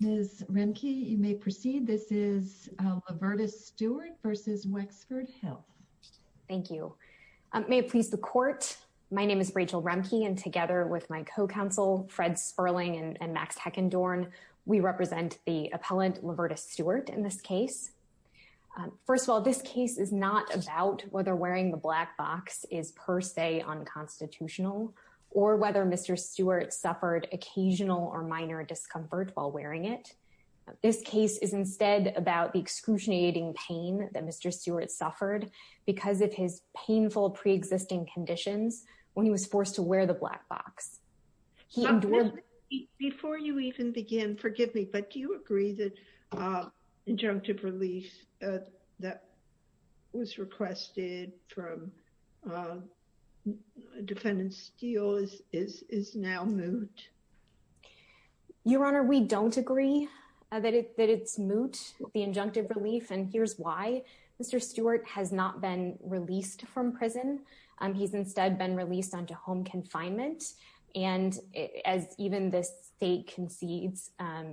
Ms. Remke, you may proceed. This is Lavertis Stewart v. Wexford Health. Thank you. May it please the court, my name is Rachel Remke, and together with my co-counsel Fred Sperling and Max Heckendorn, we represent the appellant Lavertis Stewart in this case. First of all, this case is not about whether wearing the black box is per se unconstitutional, or whether Mr. Stewart suffered occasional or minor discomfort while wearing it. This case is instead about the excruciating pain that Mr. Stewart suffered because of his painful preexisting conditions when he was forced to wear the black box. He endured- Before you even begin, forgive me, but do you agree that injunctive relief that was requested from defendant Steele is now moot? Your Honor, we don't agree that it's moot, the injunctive relief, and here's why. Mr. Stewart has not been released from prison. He's instead been released onto home confinement, and as even the state concedes,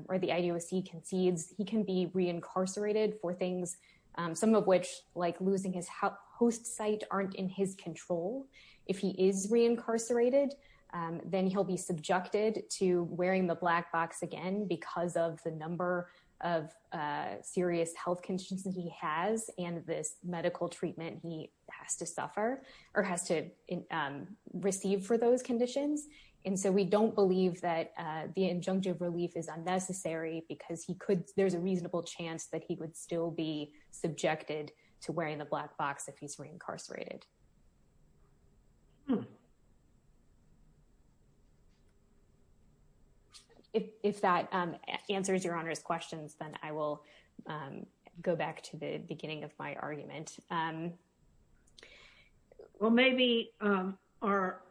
or the IDOC concedes, he can be reincarcerated for things, some of which, like losing his host site, aren't in his control. If he is reincarcerated, then he'll be subjected to wearing the black box again because of the number of serious health conditions he has, and this medical treatment he has to suffer, or has to receive for those conditions, and so we don't believe that the injunctive relief is unnecessary because there's a reasonable chance that he would still be subjected to wearing the black box if he's reincarcerated. If that answers Your Honor's questions, then I will go back to the beginning of my argument. Well, maybe our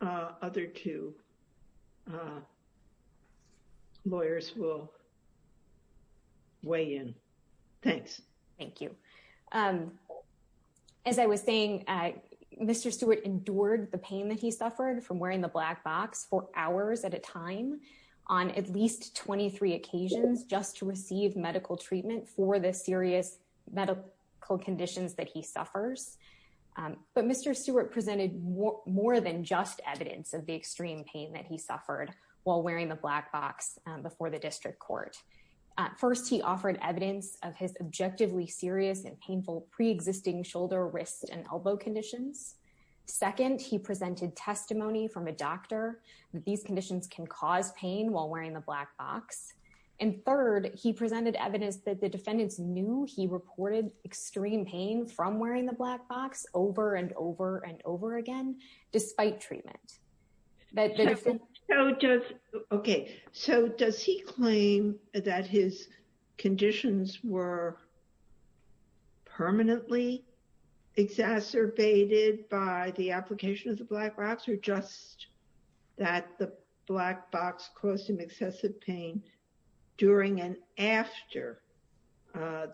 other two lawyers will weigh in. Thanks. Thank you. As I was saying, Mr. Stewart endured the pain that he suffered from wearing the black box, for hours at a time, on at least 23 occasions, just to receive medical treatment for the serious medical conditions that he suffers, but Mr. Stewart presented more than just evidence of the extreme pain that he suffered while wearing the black box before the district court. First, he offered evidence of his objectively serious and painful preexisting shoulder, wrist, and elbow conditions. Second, he presented testimony from a doctor that these conditions can cause pain while wearing the black box. And third, he presented evidence that the defendants knew he reported extreme pain from wearing the black box over and over and over again, despite treatment. Okay, so does he claim that his conditions were permanently exacerbated by the application of the black box, or just that the black box caused him excessive pain during and after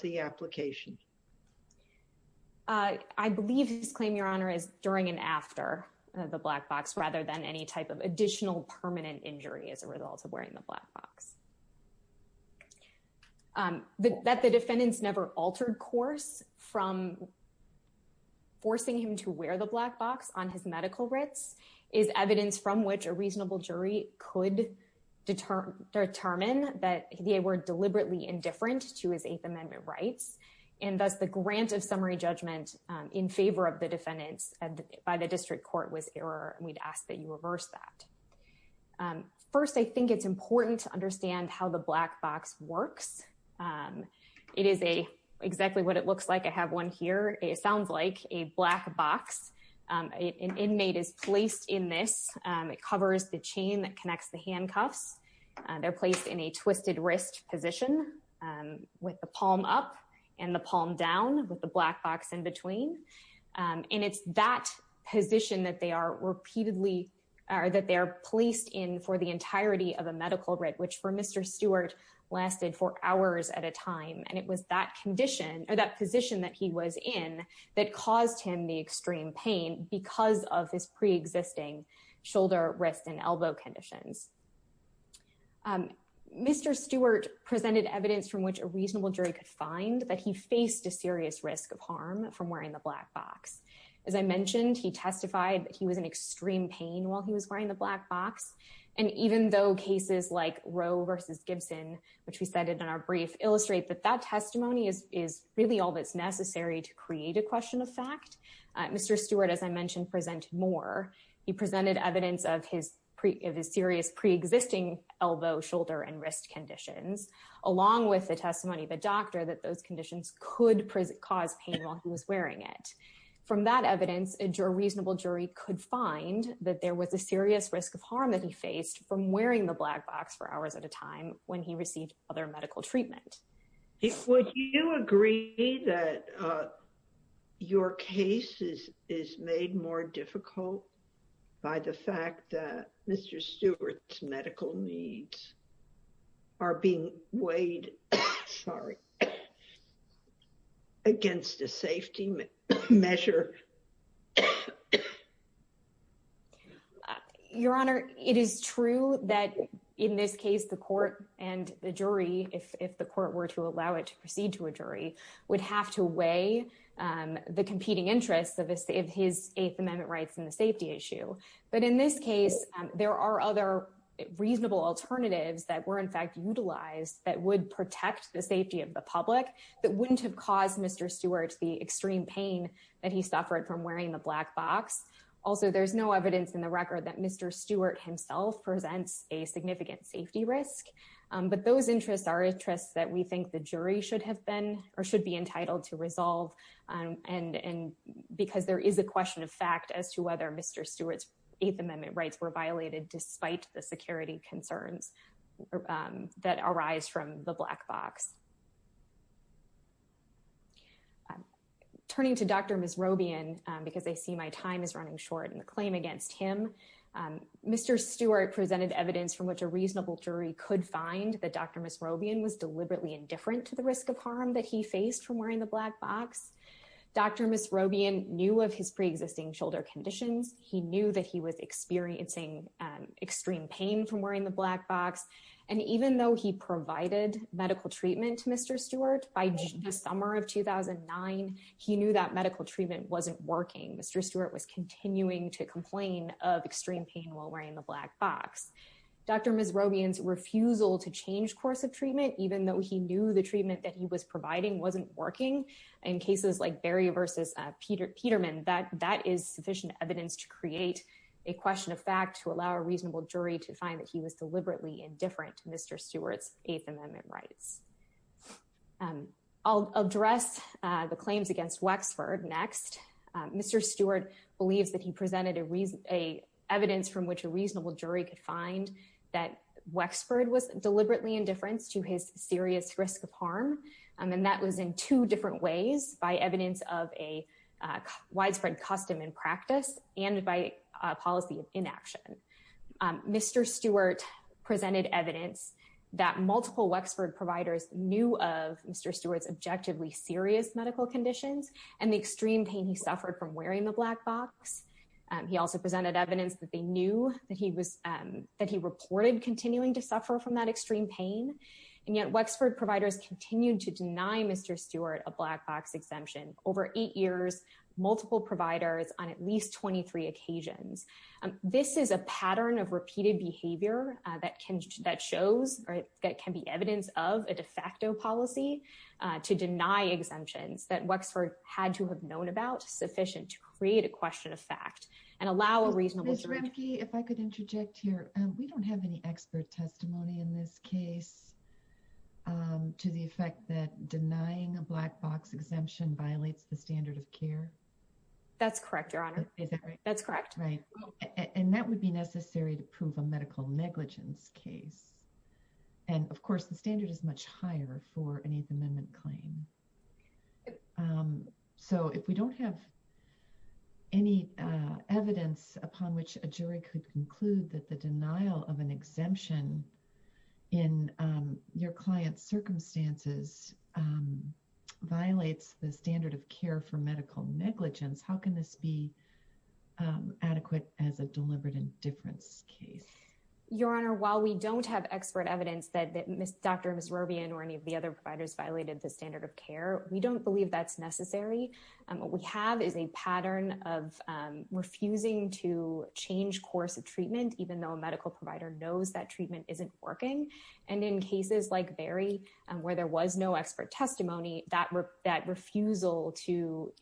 the application? I believe his claim, Your Honor, is during and after the black box, rather than any type of additional permanent injury as a result of wearing the black box. That the defendants never altered course from forcing him to wear the black box on his medical writs is evidence from which a reasonable jury could determine that they were deliberately indifferent to his Eighth Amendment rights, and thus the grant of summary judgment in favor of the defendants by the district court was error, and we'd ask that you reverse that. First, I think it's important to understand how the black box works. It is exactly what it looks like. I have one here. It sounds like a black box. An inmate is placed in this. It covers the chain that connects the handcuffs. They're placed in a twisted wrist position with the palm up and the palm down with the black box in between. And it's that position that they are repeatedly, or that they're placed in for the entirety of a medical writ, which for Mr. Stewart lasted for hours at a time. And it was that condition or that position that he was in that caused him the extreme pain because of his preexisting shoulder, wrist and elbow conditions. Mr. Stewart presented evidence from which a reasonable jury could find that he faced a serious risk of harm from wearing the black box. As I mentioned, he testified that he was in extreme pain while he was wearing the black box. And even though cases like Roe versus Gibson, which we said in our brief, illustrate that that testimony is really all that's necessary to create a question of fact. Mr. Stewart, as I mentioned, presented more. He presented evidence of his serious preexisting elbow, shoulder and wrist conditions, along with the testimony of a doctor that those conditions could cause pain while he was wearing it. From that evidence, a reasonable jury could find that there was a serious risk of harm that he faced from wearing the black box for hours at a time when he received other medical treatment. Would you agree that your case is made more difficult by the fact that Mr. Stewart's medical needs are being weighed, sorry, against a safety measure? Your Honor, it is true that in this case, the court and the jury, if the court were to allow it to proceed to a jury, would have to weigh the competing interests of his Eighth Amendment rights and the safety issue. But in this case, there are other reasonable alternatives that were in fact utilized that would protect the safety of the public that wouldn't have caused Mr. Stewart the extreme pain that he suffered from wearing the black box. Also, there's no evidence in the record that Mr. Stewart himself presents a significant safety risk. But those interests are interests that we think the jury should have been or should be entitled to resolve. And because there is a question of fact as to whether Mr. Stewart's Eighth Amendment rights were violated despite the security concerns that arise from the black box. Turning to Dr. Misrobian, because I see my time is running short in the claim against him. Mr. Stewart presented evidence from which a reasonable jury could find that Dr. Misrobian was deliberately indifferent to the risk of harm that he faced from wearing the black box. Dr. Misrobian knew of his preexisting shoulder conditions. He knew that he was experiencing extreme pain from wearing the black box. And even though he provided medical treatment to Mr. Stewart by the summer of 2009, he knew that medical treatment wasn't working. Mr. Stewart was continuing to complain of extreme pain while wearing the black box. Dr. Misrobian's refusal to change course of treatment, even though he knew the treatment that he was providing wasn't working in cases like Barry versus Peterman, that is sufficient evidence to create a question of fact to allow a reasonable jury to find that he was deliberately indifferent to Mr. Stewart's Eighth Amendment rights. I'll address the claims against Wexford next. Mr. Stewart believes that he presented evidence from which a reasonable jury could find that Wexford was deliberately indifferent to his serious risk of harm. And that was in two different ways, by evidence of a widespread custom and practice and by a policy of inaction. Mr. Stewart presented evidence that multiple Wexford providers knew of Mr. Stewart's objectively serious medical conditions and the extreme pain he suffered from wearing the black box. He also presented evidence that they knew that he reported continuing to suffer from that extreme pain. And yet Wexford providers continued to deny Mr. Stewart a black box exemption over eight years, multiple providers on at least 23 occasions. This is a pattern of repeated behavior that shows or that can be evidence of a de facto policy to deny exemptions that Wexford had to have known about, sufficient to create a question of fact and allow a reasonable jury- Ms. Remke, if I could interject here, we don't have any expert testimony in this case to the effect that denying a black box exemption violates the standard of care. That's correct, Your Honor. That's correct. Right, and that would be necessary to prove a medical negligence case. And of course the standard is much higher for an Eighth Amendment claim. So if we don't have any evidence upon which a jury could conclude that the denial of an exemption in your client's circumstances violates the standard of care for medical negligence, how can this be adequate as a deliberate indifference case? Your Honor, while we don't have expert evidence that Dr. Misrobian or any of the other providers violated the standard of care, we don't believe that's necessary. What we have is a pattern of refusing to change course of treatment, even though a medical provider knows that treatment isn't working. And in cases like Barry, and where there was no expert testimony, that refusal to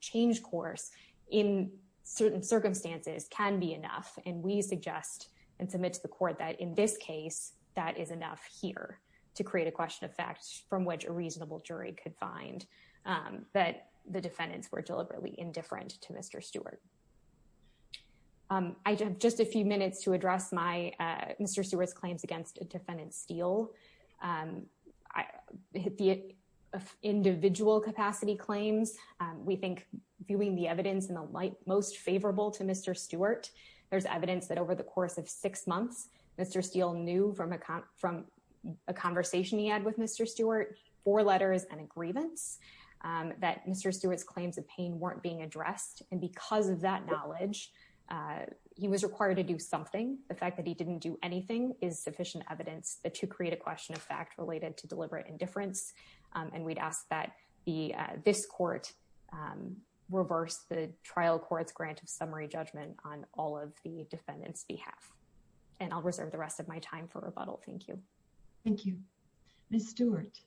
change course in certain circumstances can be enough. And we suggest and submit to the court that in this case, that is enough here to create a question of facts from which a reasonable jury could find that the defendants were deliberately indifferent to Mr. Stewart. I have just a few minutes to address Mr. Stewart's claims against a defendant Steele. Individual capacity claims, we think viewing the evidence in the light most favorable to Mr. Stewart, there's evidence that over the course of six months, Mr. Steele knew from a conversation he had with Mr. Stewart, four letters and a grievance, that Mr. Stewart's claims of pain weren't being addressed. And because of that knowledge, he was required to do something. The fact that he didn't do anything is sufficient evidence to create a question of fact related to deliberate indifference and we'd ask that this court reverse the trial court's grant of summary judgment on all of the defendants behalf. And I'll reserve the rest of my time for rebuttal. Thank you. Thank you. Ms. Stewart.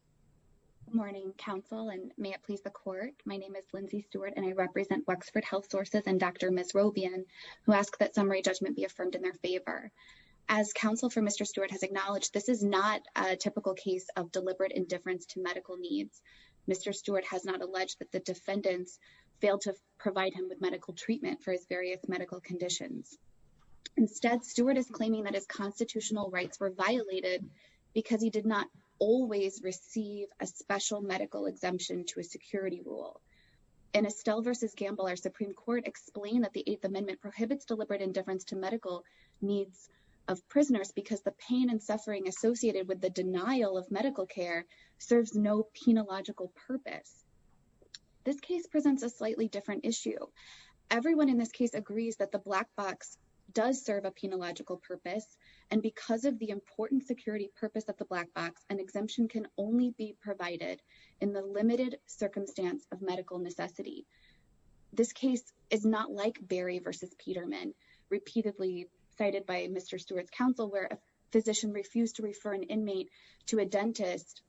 Morning counsel and may it please the court. My name is Lindsay Stewart and I represent Wexford Health Sources and Dr. Ms. Robian, who asked that summary judgment be affirmed in their favor. As counsel for Mr. Stewart has acknowledged, this is not a typical case of deliberate indifference to medical needs. Mr. Stewart has not alleged that the defendants failed to provide him with medical treatment for his various medical conditions. Instead, Stewart is claiming that his constitutional rights were violated because he did not always receive a special medical exemption to a security rule. In Estelle versus Gamble, our Supreme Court explained that the eighth amendment prohibits deliberate indifference to medical needs of prisoners because the pain and suffering associated with the denial of medical care serves no penological purpose. This case presents a slightly different issue. Everyone in this case agrees that the black box does serve a penological purpose. And because of the important security purpose of the black box, an exemption can only be provided in the limited circumstance of medical necessity. This case is not like Berry versus Peterman, repeatedly cited by Mr. Stewart's counsel where a physician refused to refer an inmate to a dentist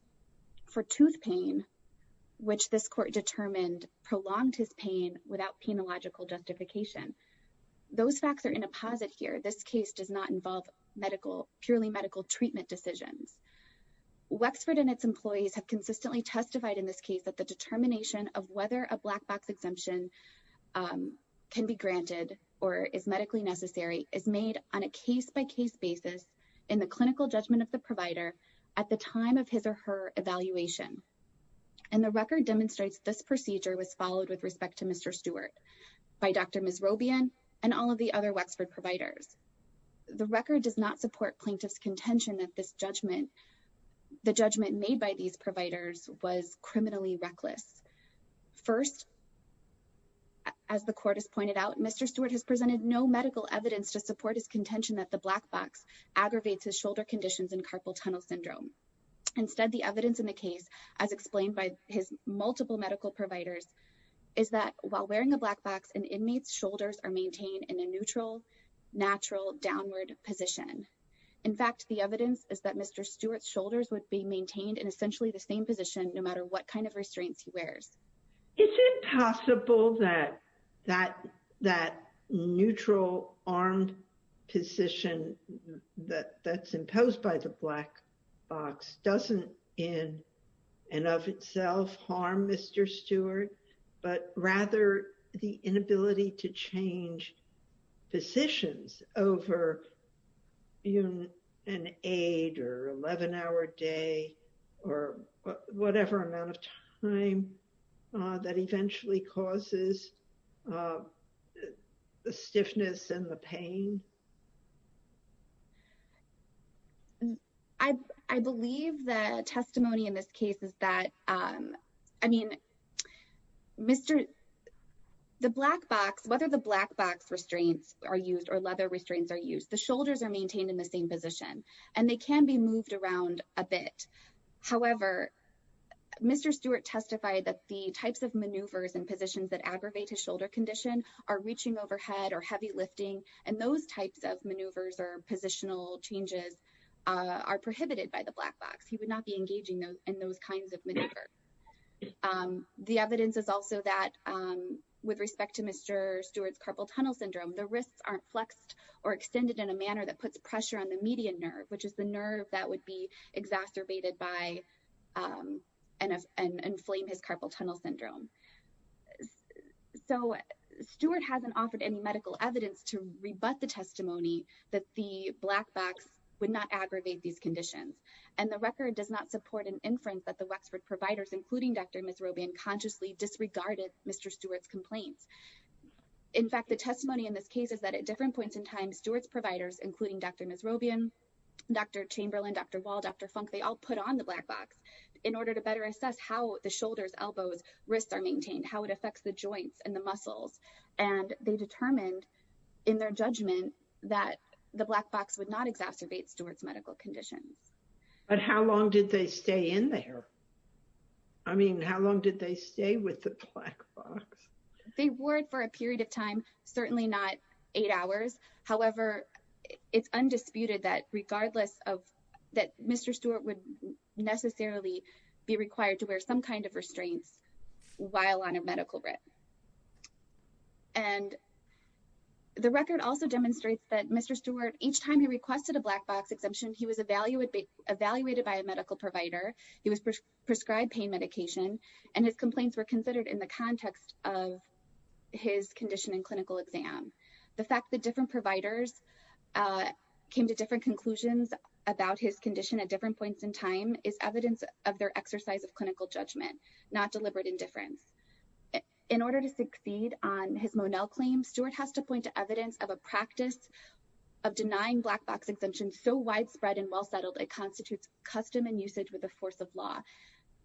for tooth pain, which this court determined prolonged his pain without penological justification. Those facts are in a posit here. This case does not involve purely medical treatment decisions. Wexford and its employees have consistently testified in this case that the determination of whether a black box exemption can be granted or is medically necessary is made on a case-by-case basis in the clinical judgment of the provider at the time of his or her evaluation. And the record demonstrates this procedure was followed with respect to Mr. Stewart by Dr. Misrobian and all of the other Wexford providers. The record does not support plaintiff's contention that the judgment made by these providers was criminally reckless. First, as the court has pointed out, Mr. Stewart has presented no medical evidence to support his contention that the black box aggravates his shoulder conditions and carpal tunnel syndrome. Instead, the evidence in the case, as explained by his multiple medical providers, is that while wearing a black box, an inmate's shoulders are maintained in a neutral, natural, downward position. In fact, the evidence is that Mr. Stewart's shoulders would be maintained in essentially the same position no matter what kind of restraints he wears. Is it possible that that neutral armed position that's imposed by the black box doesn't in and of itself harm Mr. Stewart, but rather the inability to change positions over an eight or 11-hour day or whatever amount of time that eventually causes the stiffness and the pain? I believe the testimony in this case is that, I mean, the black box, whether the black box restraints are used or leather restraints are used, the shoulders are maintained in the same position and they can be moved around a bit. However, Mr. Stewart testified that the types of maneuvers and positions that aggravate his shoulder condition are reaching overhead or heavy lifting, and those types of maneuvers or positional changes are prohibited by the black box. He would not be engaging in those kinds of maneuvers. The evidence is also that with respect to Mr. Stewart's carpal tunnel syndrome, the wrists aren't flexed or extended in a manner that puts pressure on the median nerve, which is the nerve that would be exacerbated by and inflame his carpal tunnel syndrome. So Stewart hasn't offered any medical evidence to rebut the testimony that the black box would not aggravate these conditions, and the record does not support an inference that the Wexford providers, including Dr. Misrobian, consciously disregarded Mr. Stewart's complaints. In fact, the testimony in this case is that at different points in time, Stewart's providers, including Dr. Misrobian, Dr. Chamberlain, Dr. Wall, Dr. Funk, they all put on the black box in order to better assess how the shoulders, elbows, wrists are maintained, how it affects the joints and the muscles, and they determined in their judgment that the black box would not exacerbate Stewart's medical conditions. But how long did they stay in there? I mean, how long did they stay with the black box? They were for a period of time, certainly not eight hours. However, it's undisputed that regardless of, that Mr. Stewart would necessarily be required to wear some kind of restraints while on a medical rep. And the record also demonstrates that Mr. Stewart, each time he requested a black box exemption, he was evaluated by a medical provider, he was prescribed pain medication, and his complaints were considered in the context of his condition and clinical exam. The fact that different providers came to different conclusions about his condition at different points in time is evidence of their exercise of clinical judgment, not deliberate indifference. In order to succeed on his Monell claim, Stewart has to point to evidence of a practice of denying black box exemptions so widespread and well-settled it constitutes custom and usage with the force of law.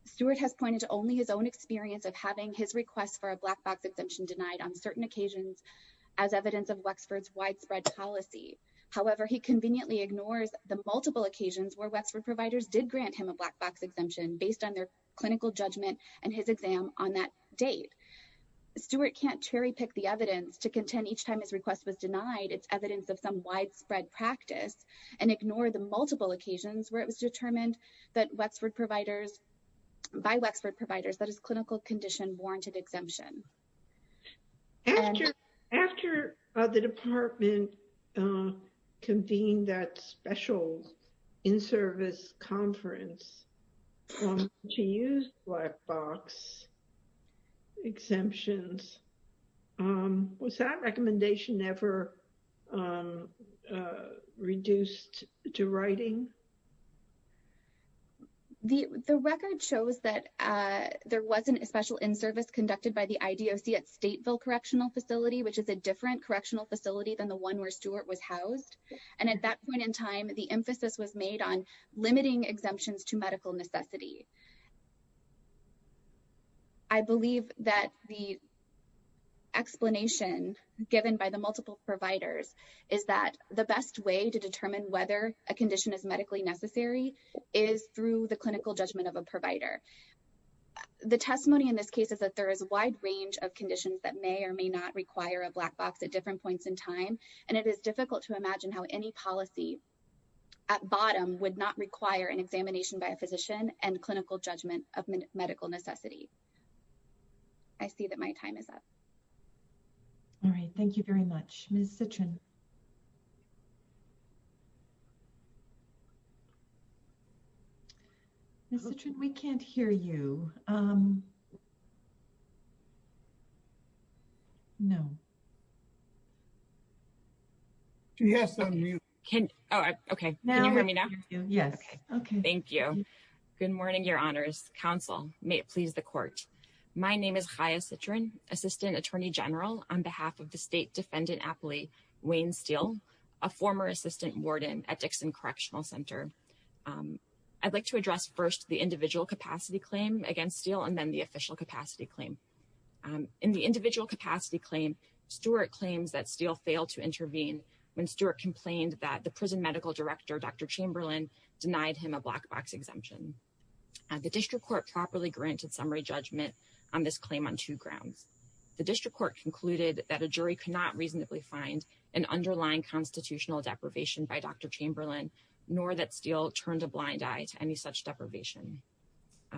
Stewart has pointed to only his own experience of having his request for a black box exemption denied on certain occasions as evidence of Wexford's widespread policy. However, he conveniently ignores the multiple occasions where Wexford providers did grant him a black box exemption based on their clinical judgment and his exam on that date. Stewart can't cherry pick the evidence to contend each time his request was denied, it's evidence of some widespread practice and ignore the multiple occasions where it was determined that Wexford providers, by Wexford providers, that his clinical condition warranted exemption. After the department convened that special in-service conference to use black box exemptions, was that recommendation ever reduced to writing? The record shows that there wasn't a special in-service conducted by the IDOC at Stateville Correctional Facility, which is a different correctional facility than the one where Stewart was housed. And at that point in time, the emphasis was made on limiting exemptions to medical necessity. I believe that the explanation given by the multiple providers is that the best way to determine whether a condition is medically necessary is through the clinical judgment of a provider. The testimony in this case is that there is a wide range of conditions that may or may not require a black box at different points in time. And it is difficult to imagine how any policy at bottom would not require an examination by a physician and clinical judgment of medical necessity. I see that my time is up. All right, thank you very much. Ms. Citrin. Ms. Citrin, we can't hear you. No. Do you have something to say? Okay, can you hear me now? Yes. Okay, thank you. Good morning, your honors. Counsel, may it please the court. My name is Chaya Citrin, Assistant Attorney General on behalf of the State Defendant Appellee, Wayne Steele, a former assistant warden at Dixon Correctional Center. I'd like to address first the individual capacity claim against Steele and then the official capacity claim. In the individual capacity claim, Stewart claims that Steele failed to intervene when Stewart complained that the prison medical director, Dr. Chamberlain, denied him a black box exemption. The district court properly granted summary judgment on this claim on two grounds. The district court concluded that a jury could not reasonably find an underlying constitutional deprivation by Dr. Chamberlain nor that Steele turned a blind eye to any such deprivation.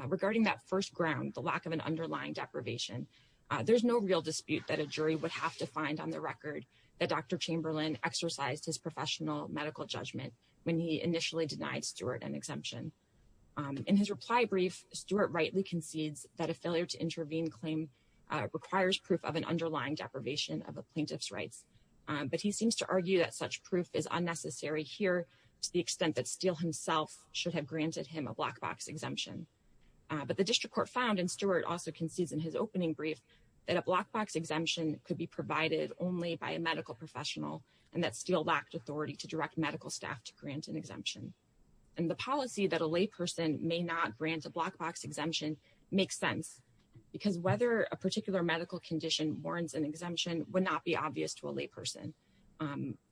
Regarding that first ground, the lack of an underlying deprivation, there's no real dispute that a jury would have to find on the record that Dr. Chamberlain exercised his professional medical judgment when he initially denied Stewart an exemption. In his reply brief, Stewart rightly concedes that a failure to intervene claim requires proof of an underlying deprivation of a plaintiff's rights. But he seems to argue that such proof is unnecessary here to the extent that Steele himself should have granted him a black box exemption. But the district court found, and Stewart also concedes in his opening brief, that a black box exemption could be provided only by a medical professional and that Steele lacked authority to direct medical staff to grant an exemption. And the policy that a lay person may not grant a black box exemption makes sense because whether a particular medical condition warrants an exemption would not be obvious to a lay person.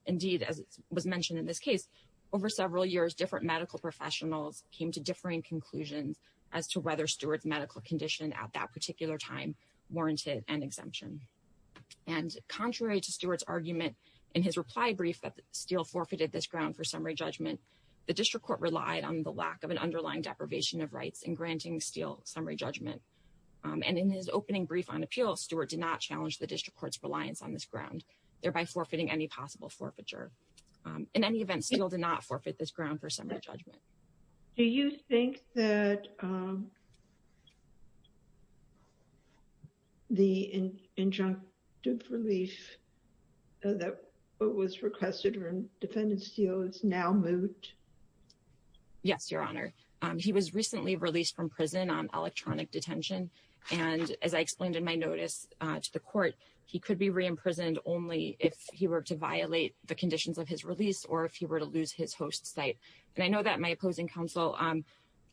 Indeed, as was mentioned in this case, over several years, different medical professionals came to differing conclusions as to whether Stewart's medical condition at that particular time warranted an exemption. And contrary to Stewart's argument in his reply brief that Steele forfeited this ground for summary judgment, the district court relied on the lack of an underlying deprivation of rights in granting Steele summary judgment. And in his opening brief on appeal, Stewart did not challenge the district court's reliance on this ground, thereby forfeiting any possible forfeiture. In any event, Steele did not forfeit this ground for summary judgment. Do you think that the injunctive relief that was requested from defendant Steele is now moot? Yes, Your Honor. He was recently released from prison on electronic detention and as I explained in my notice to the court, he could be re-imprisoned only if he were to violate the conditions of his release or if he were to lose his host site. And I know that my opposing counsel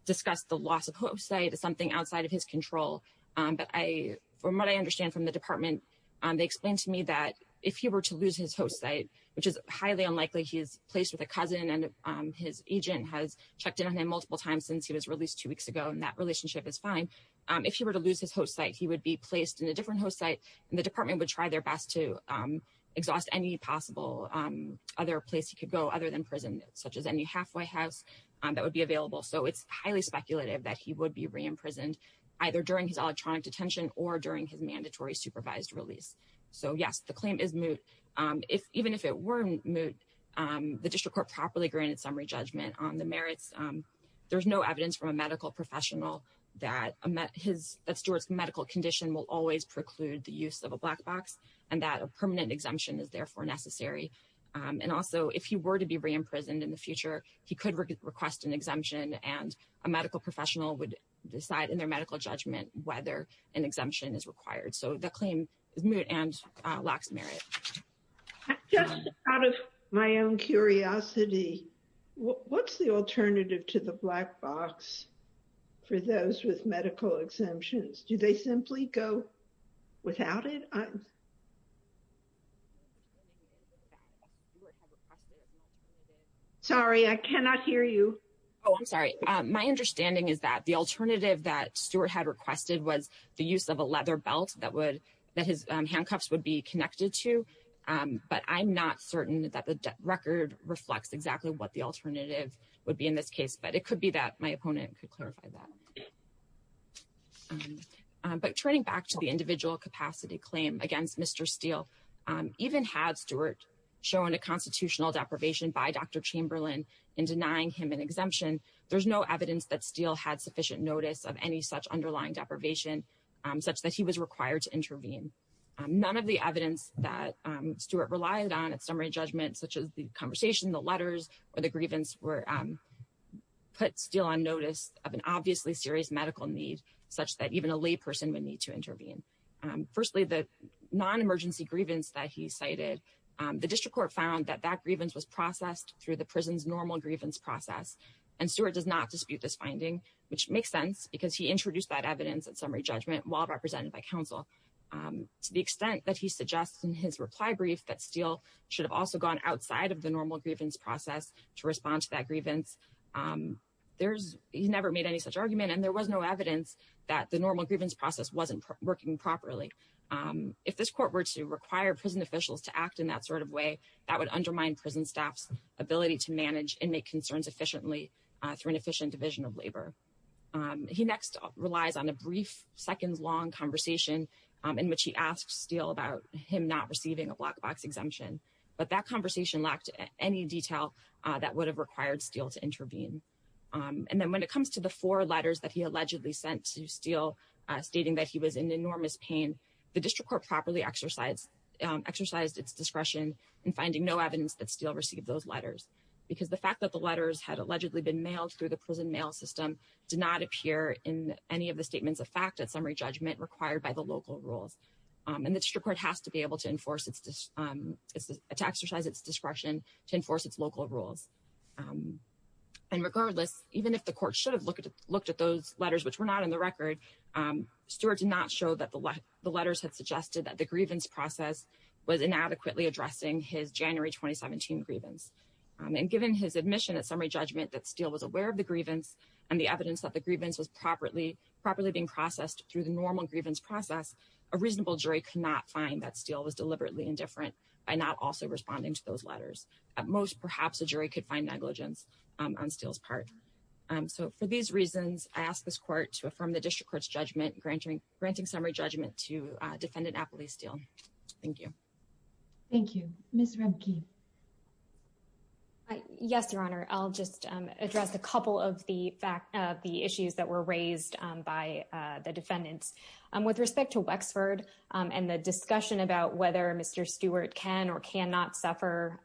discussed the loss of host site as something outside of his control, but from what I understand from the department, they explained to me that if he were to lose his host site, which is highly unlikely, he is placed with a cousin and his agent has checked in on him multiple times since he was released two weeks ago and that relationship is fine. If he were to lose his host site, he would be placed in a different host site and the department would try their best to exhaust any possible other place he could go other than prison, such as any halfway house that would be available. So it's highly speculative that he would be re-imprisoned either during his electronic detention or during his mandatory supervised release. So yes, the claim is moot. Even if it weren't moot, the district court properly granted summary judgment on the merits. There's no evidence from a medical professional that Stewart's medical condition will always preclude the use of a black box and that a permanent exemption is therefore necessary. And also if he were to be re-imprisoned in the future, he could request an exemption and a medical professional would decide in their medical judgment whether an exemption is required. So the claim is moot and lacks merit. Just out of my own curiosity, what's the alternative to the black box for those with medical exemptions? Do they simply go without it? Sorry, I cannot hear you. Oh, I'm sorry. My understanding is that the alternative that Stewart had requested was the use of a leather belt that his handcuffs would be connected to, but I'm not certain that the record reflects exactly what the alternative would be in this case, but it could be that my opponent could clarify that. But turning back to the individual capacity claim against Mr. Steele, even had Stewart shown a constitutional deprivation by Dr. Chamberlain in denying him an exemption, there's no evidence that Steele had sufficient notice of any such underlying deprivation such that he was required to intervene. None of the evidence that Stewart relied on at summary judgment, such as the conversation, the letters or the grievance were put Steele on notice of an obviously serious medical need such that even a lay person would need to intervene. Firstly, the non-emergency grievance that he cited, the district court found that that grievance was processed through the prison's normal grievance process and Stewart does not dispute this finding, which makes sense because he introduced that evidence at summary judgment while represented by counsel. To the extent that he suggests in his reply brief that Steele should have also gone outside of the normal grievance process to respond to that grievance, he never made any such argument and there was no evidence that the normal grievance process wasn't working properly. If this court were to require prison officials to act in that sort of way, that would undermine prison staff's ability to manage and make concerns efficiently through an efficient division of labor. He next relies on a brief seconds long conversation in which he asked Steele about him not receiving a black box exemption, but that conversation lacked any detail that would have required Steele to intervene. And then when it comes to the four letters that he allegedly sent to Steele, stating that he was in enormous pain, the district court properly exercised its discretion in finding no evidence that Steele received those letters because the fact that the letters had allegedly been mailed through the prison mail system did not appear in any of the statements of fact at summary judgment required by the local rules. And the district court has to be able to enforce its, to exercise its discretion to enforce its local rules. And regardless, even if the court should have looked at those letters, which were not in the record, Stewart did not show that the letters had suggested that the grievance process was inadequately addressing his January, 2017 grievance. And given his admission at summary judgment that Steele was aware of the grievance and the evidence that the grievance was properly, properly being processed through the normal grievance process, a reasonable jury could not find that Steele was deliberately indifferent by not also responding to those letters. At most, perhaps a jury could find negligence on Steele's part. So for these reasons, I ask this court to affirm the district court's judgment, granting summary judgment to defendant Apolice Steele. Thank you. Thank you. Ms. Remke. Yes, Your Honor. I'll just address a couple of the issues that were raised by the defendants. With respect to Wexford and the discussion about whether Mr. Stewart can or cannot suffer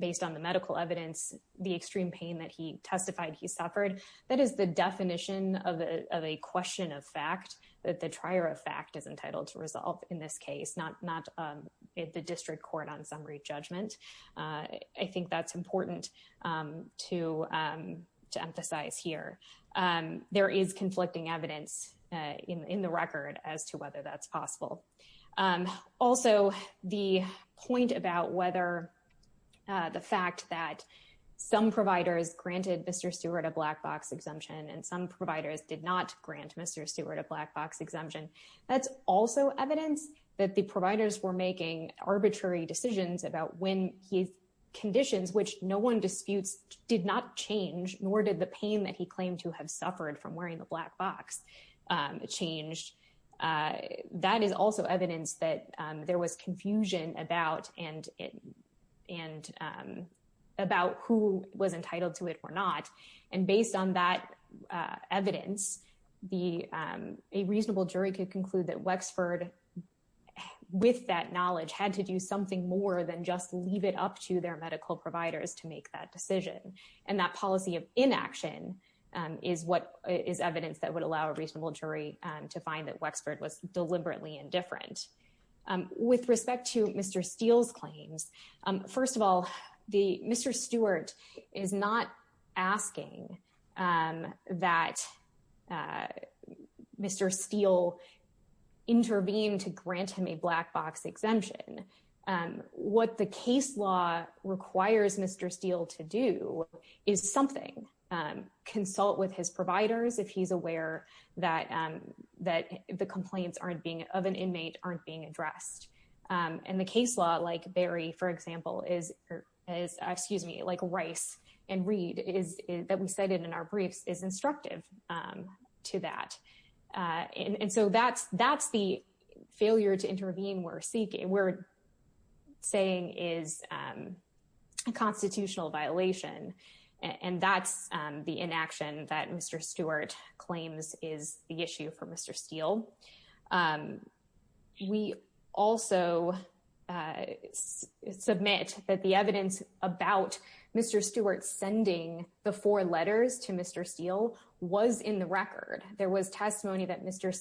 based on the medical evidence, the extreme pain that he testified he suffered, that is the definition of a question of fact that the trier of fact is entitled to resolve in this case, not the district court on summary judgment. I think that's important to emphasize here. There is conflicting evidence in the record as to whether that's possible. Also, the point about whether the fact that some providers granted Mr. Stewart a black box exemption and some providers did not grant Mr. Stewart a black box exemption, that's also evidence that the providers were making arbitrary decisions about when his conditions, which no one disputes, did not change, nor did the pain that he claimed to have suffered from wearing the black box change. That is also evidence that there was confusion about who was entitled to it or not. And based on that evidence, a reasonable jury could conclude that Wexford, with that knowledge, had to do something more than just leave it up to their medical providers to make that decision. And that policy of inaction is evidence that would allow a reasonable jury to find that Wexford was deliberately indifferent. With respect to Mr. Steele's claims, first of all, Mr. Stewart is not asking that Mr. Steele intervene to grant him a black box exemption. What the case law requires Mr. Steele to do is something, consult with his providers if he's aware that the complaints of an inmate aren't being addressed. And the case law, like Barry, for example, is, excuse me, like Rice and Reed, that we cited in our briefs, is instructive to that. And so that's the failure to intervene we're saying is a constitutional violation. And that's the inaction that Mr. Stewart claims is the issue for Mr. Steele. We also submit that the evidence about Mr. Stewart sending the four letters to Mr. Steele was in the record. There was testimony that Mr.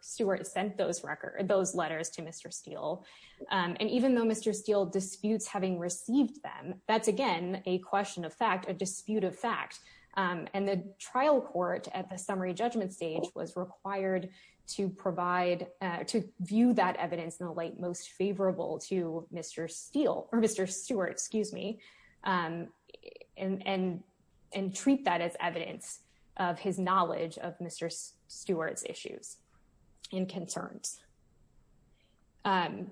Stewart sent those letters to Mr. Steele. And even though Mr. Steele disputes having received them, that's again, a question of fact, a dispute of fact. And the trial court at the summary judgment stage was required to provide, to view that evidence in the light most favorable to Mr. Steele, or Mr. Stewart, excuse me, and treat that as evidence of his knowledge of Mr. Stewart's issues and concerns. And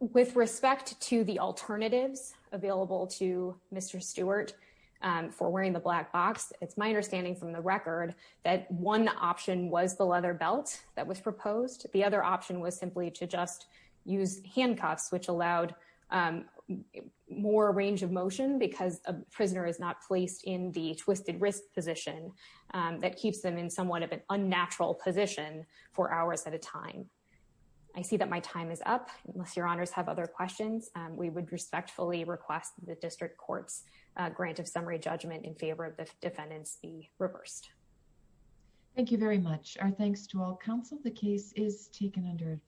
with respect to the alternatives available to Mr. Stewart for wearing the black box, it's my understanding from the record that one option was the leather belt that was proposed. The other option was simply to just use handcuffs, which allowed more range of motion because a prisoner is not placed in the twisted wrist position that keeps them in somewhat of an unnatural position for hours at a time. I see that my time is up. Unless your honors have other questions, we would respectfully request the district court's grant of summary judgment in favor of the defendants be reversed. Thank you very much. Our thanks to all counsel. The case is taken under-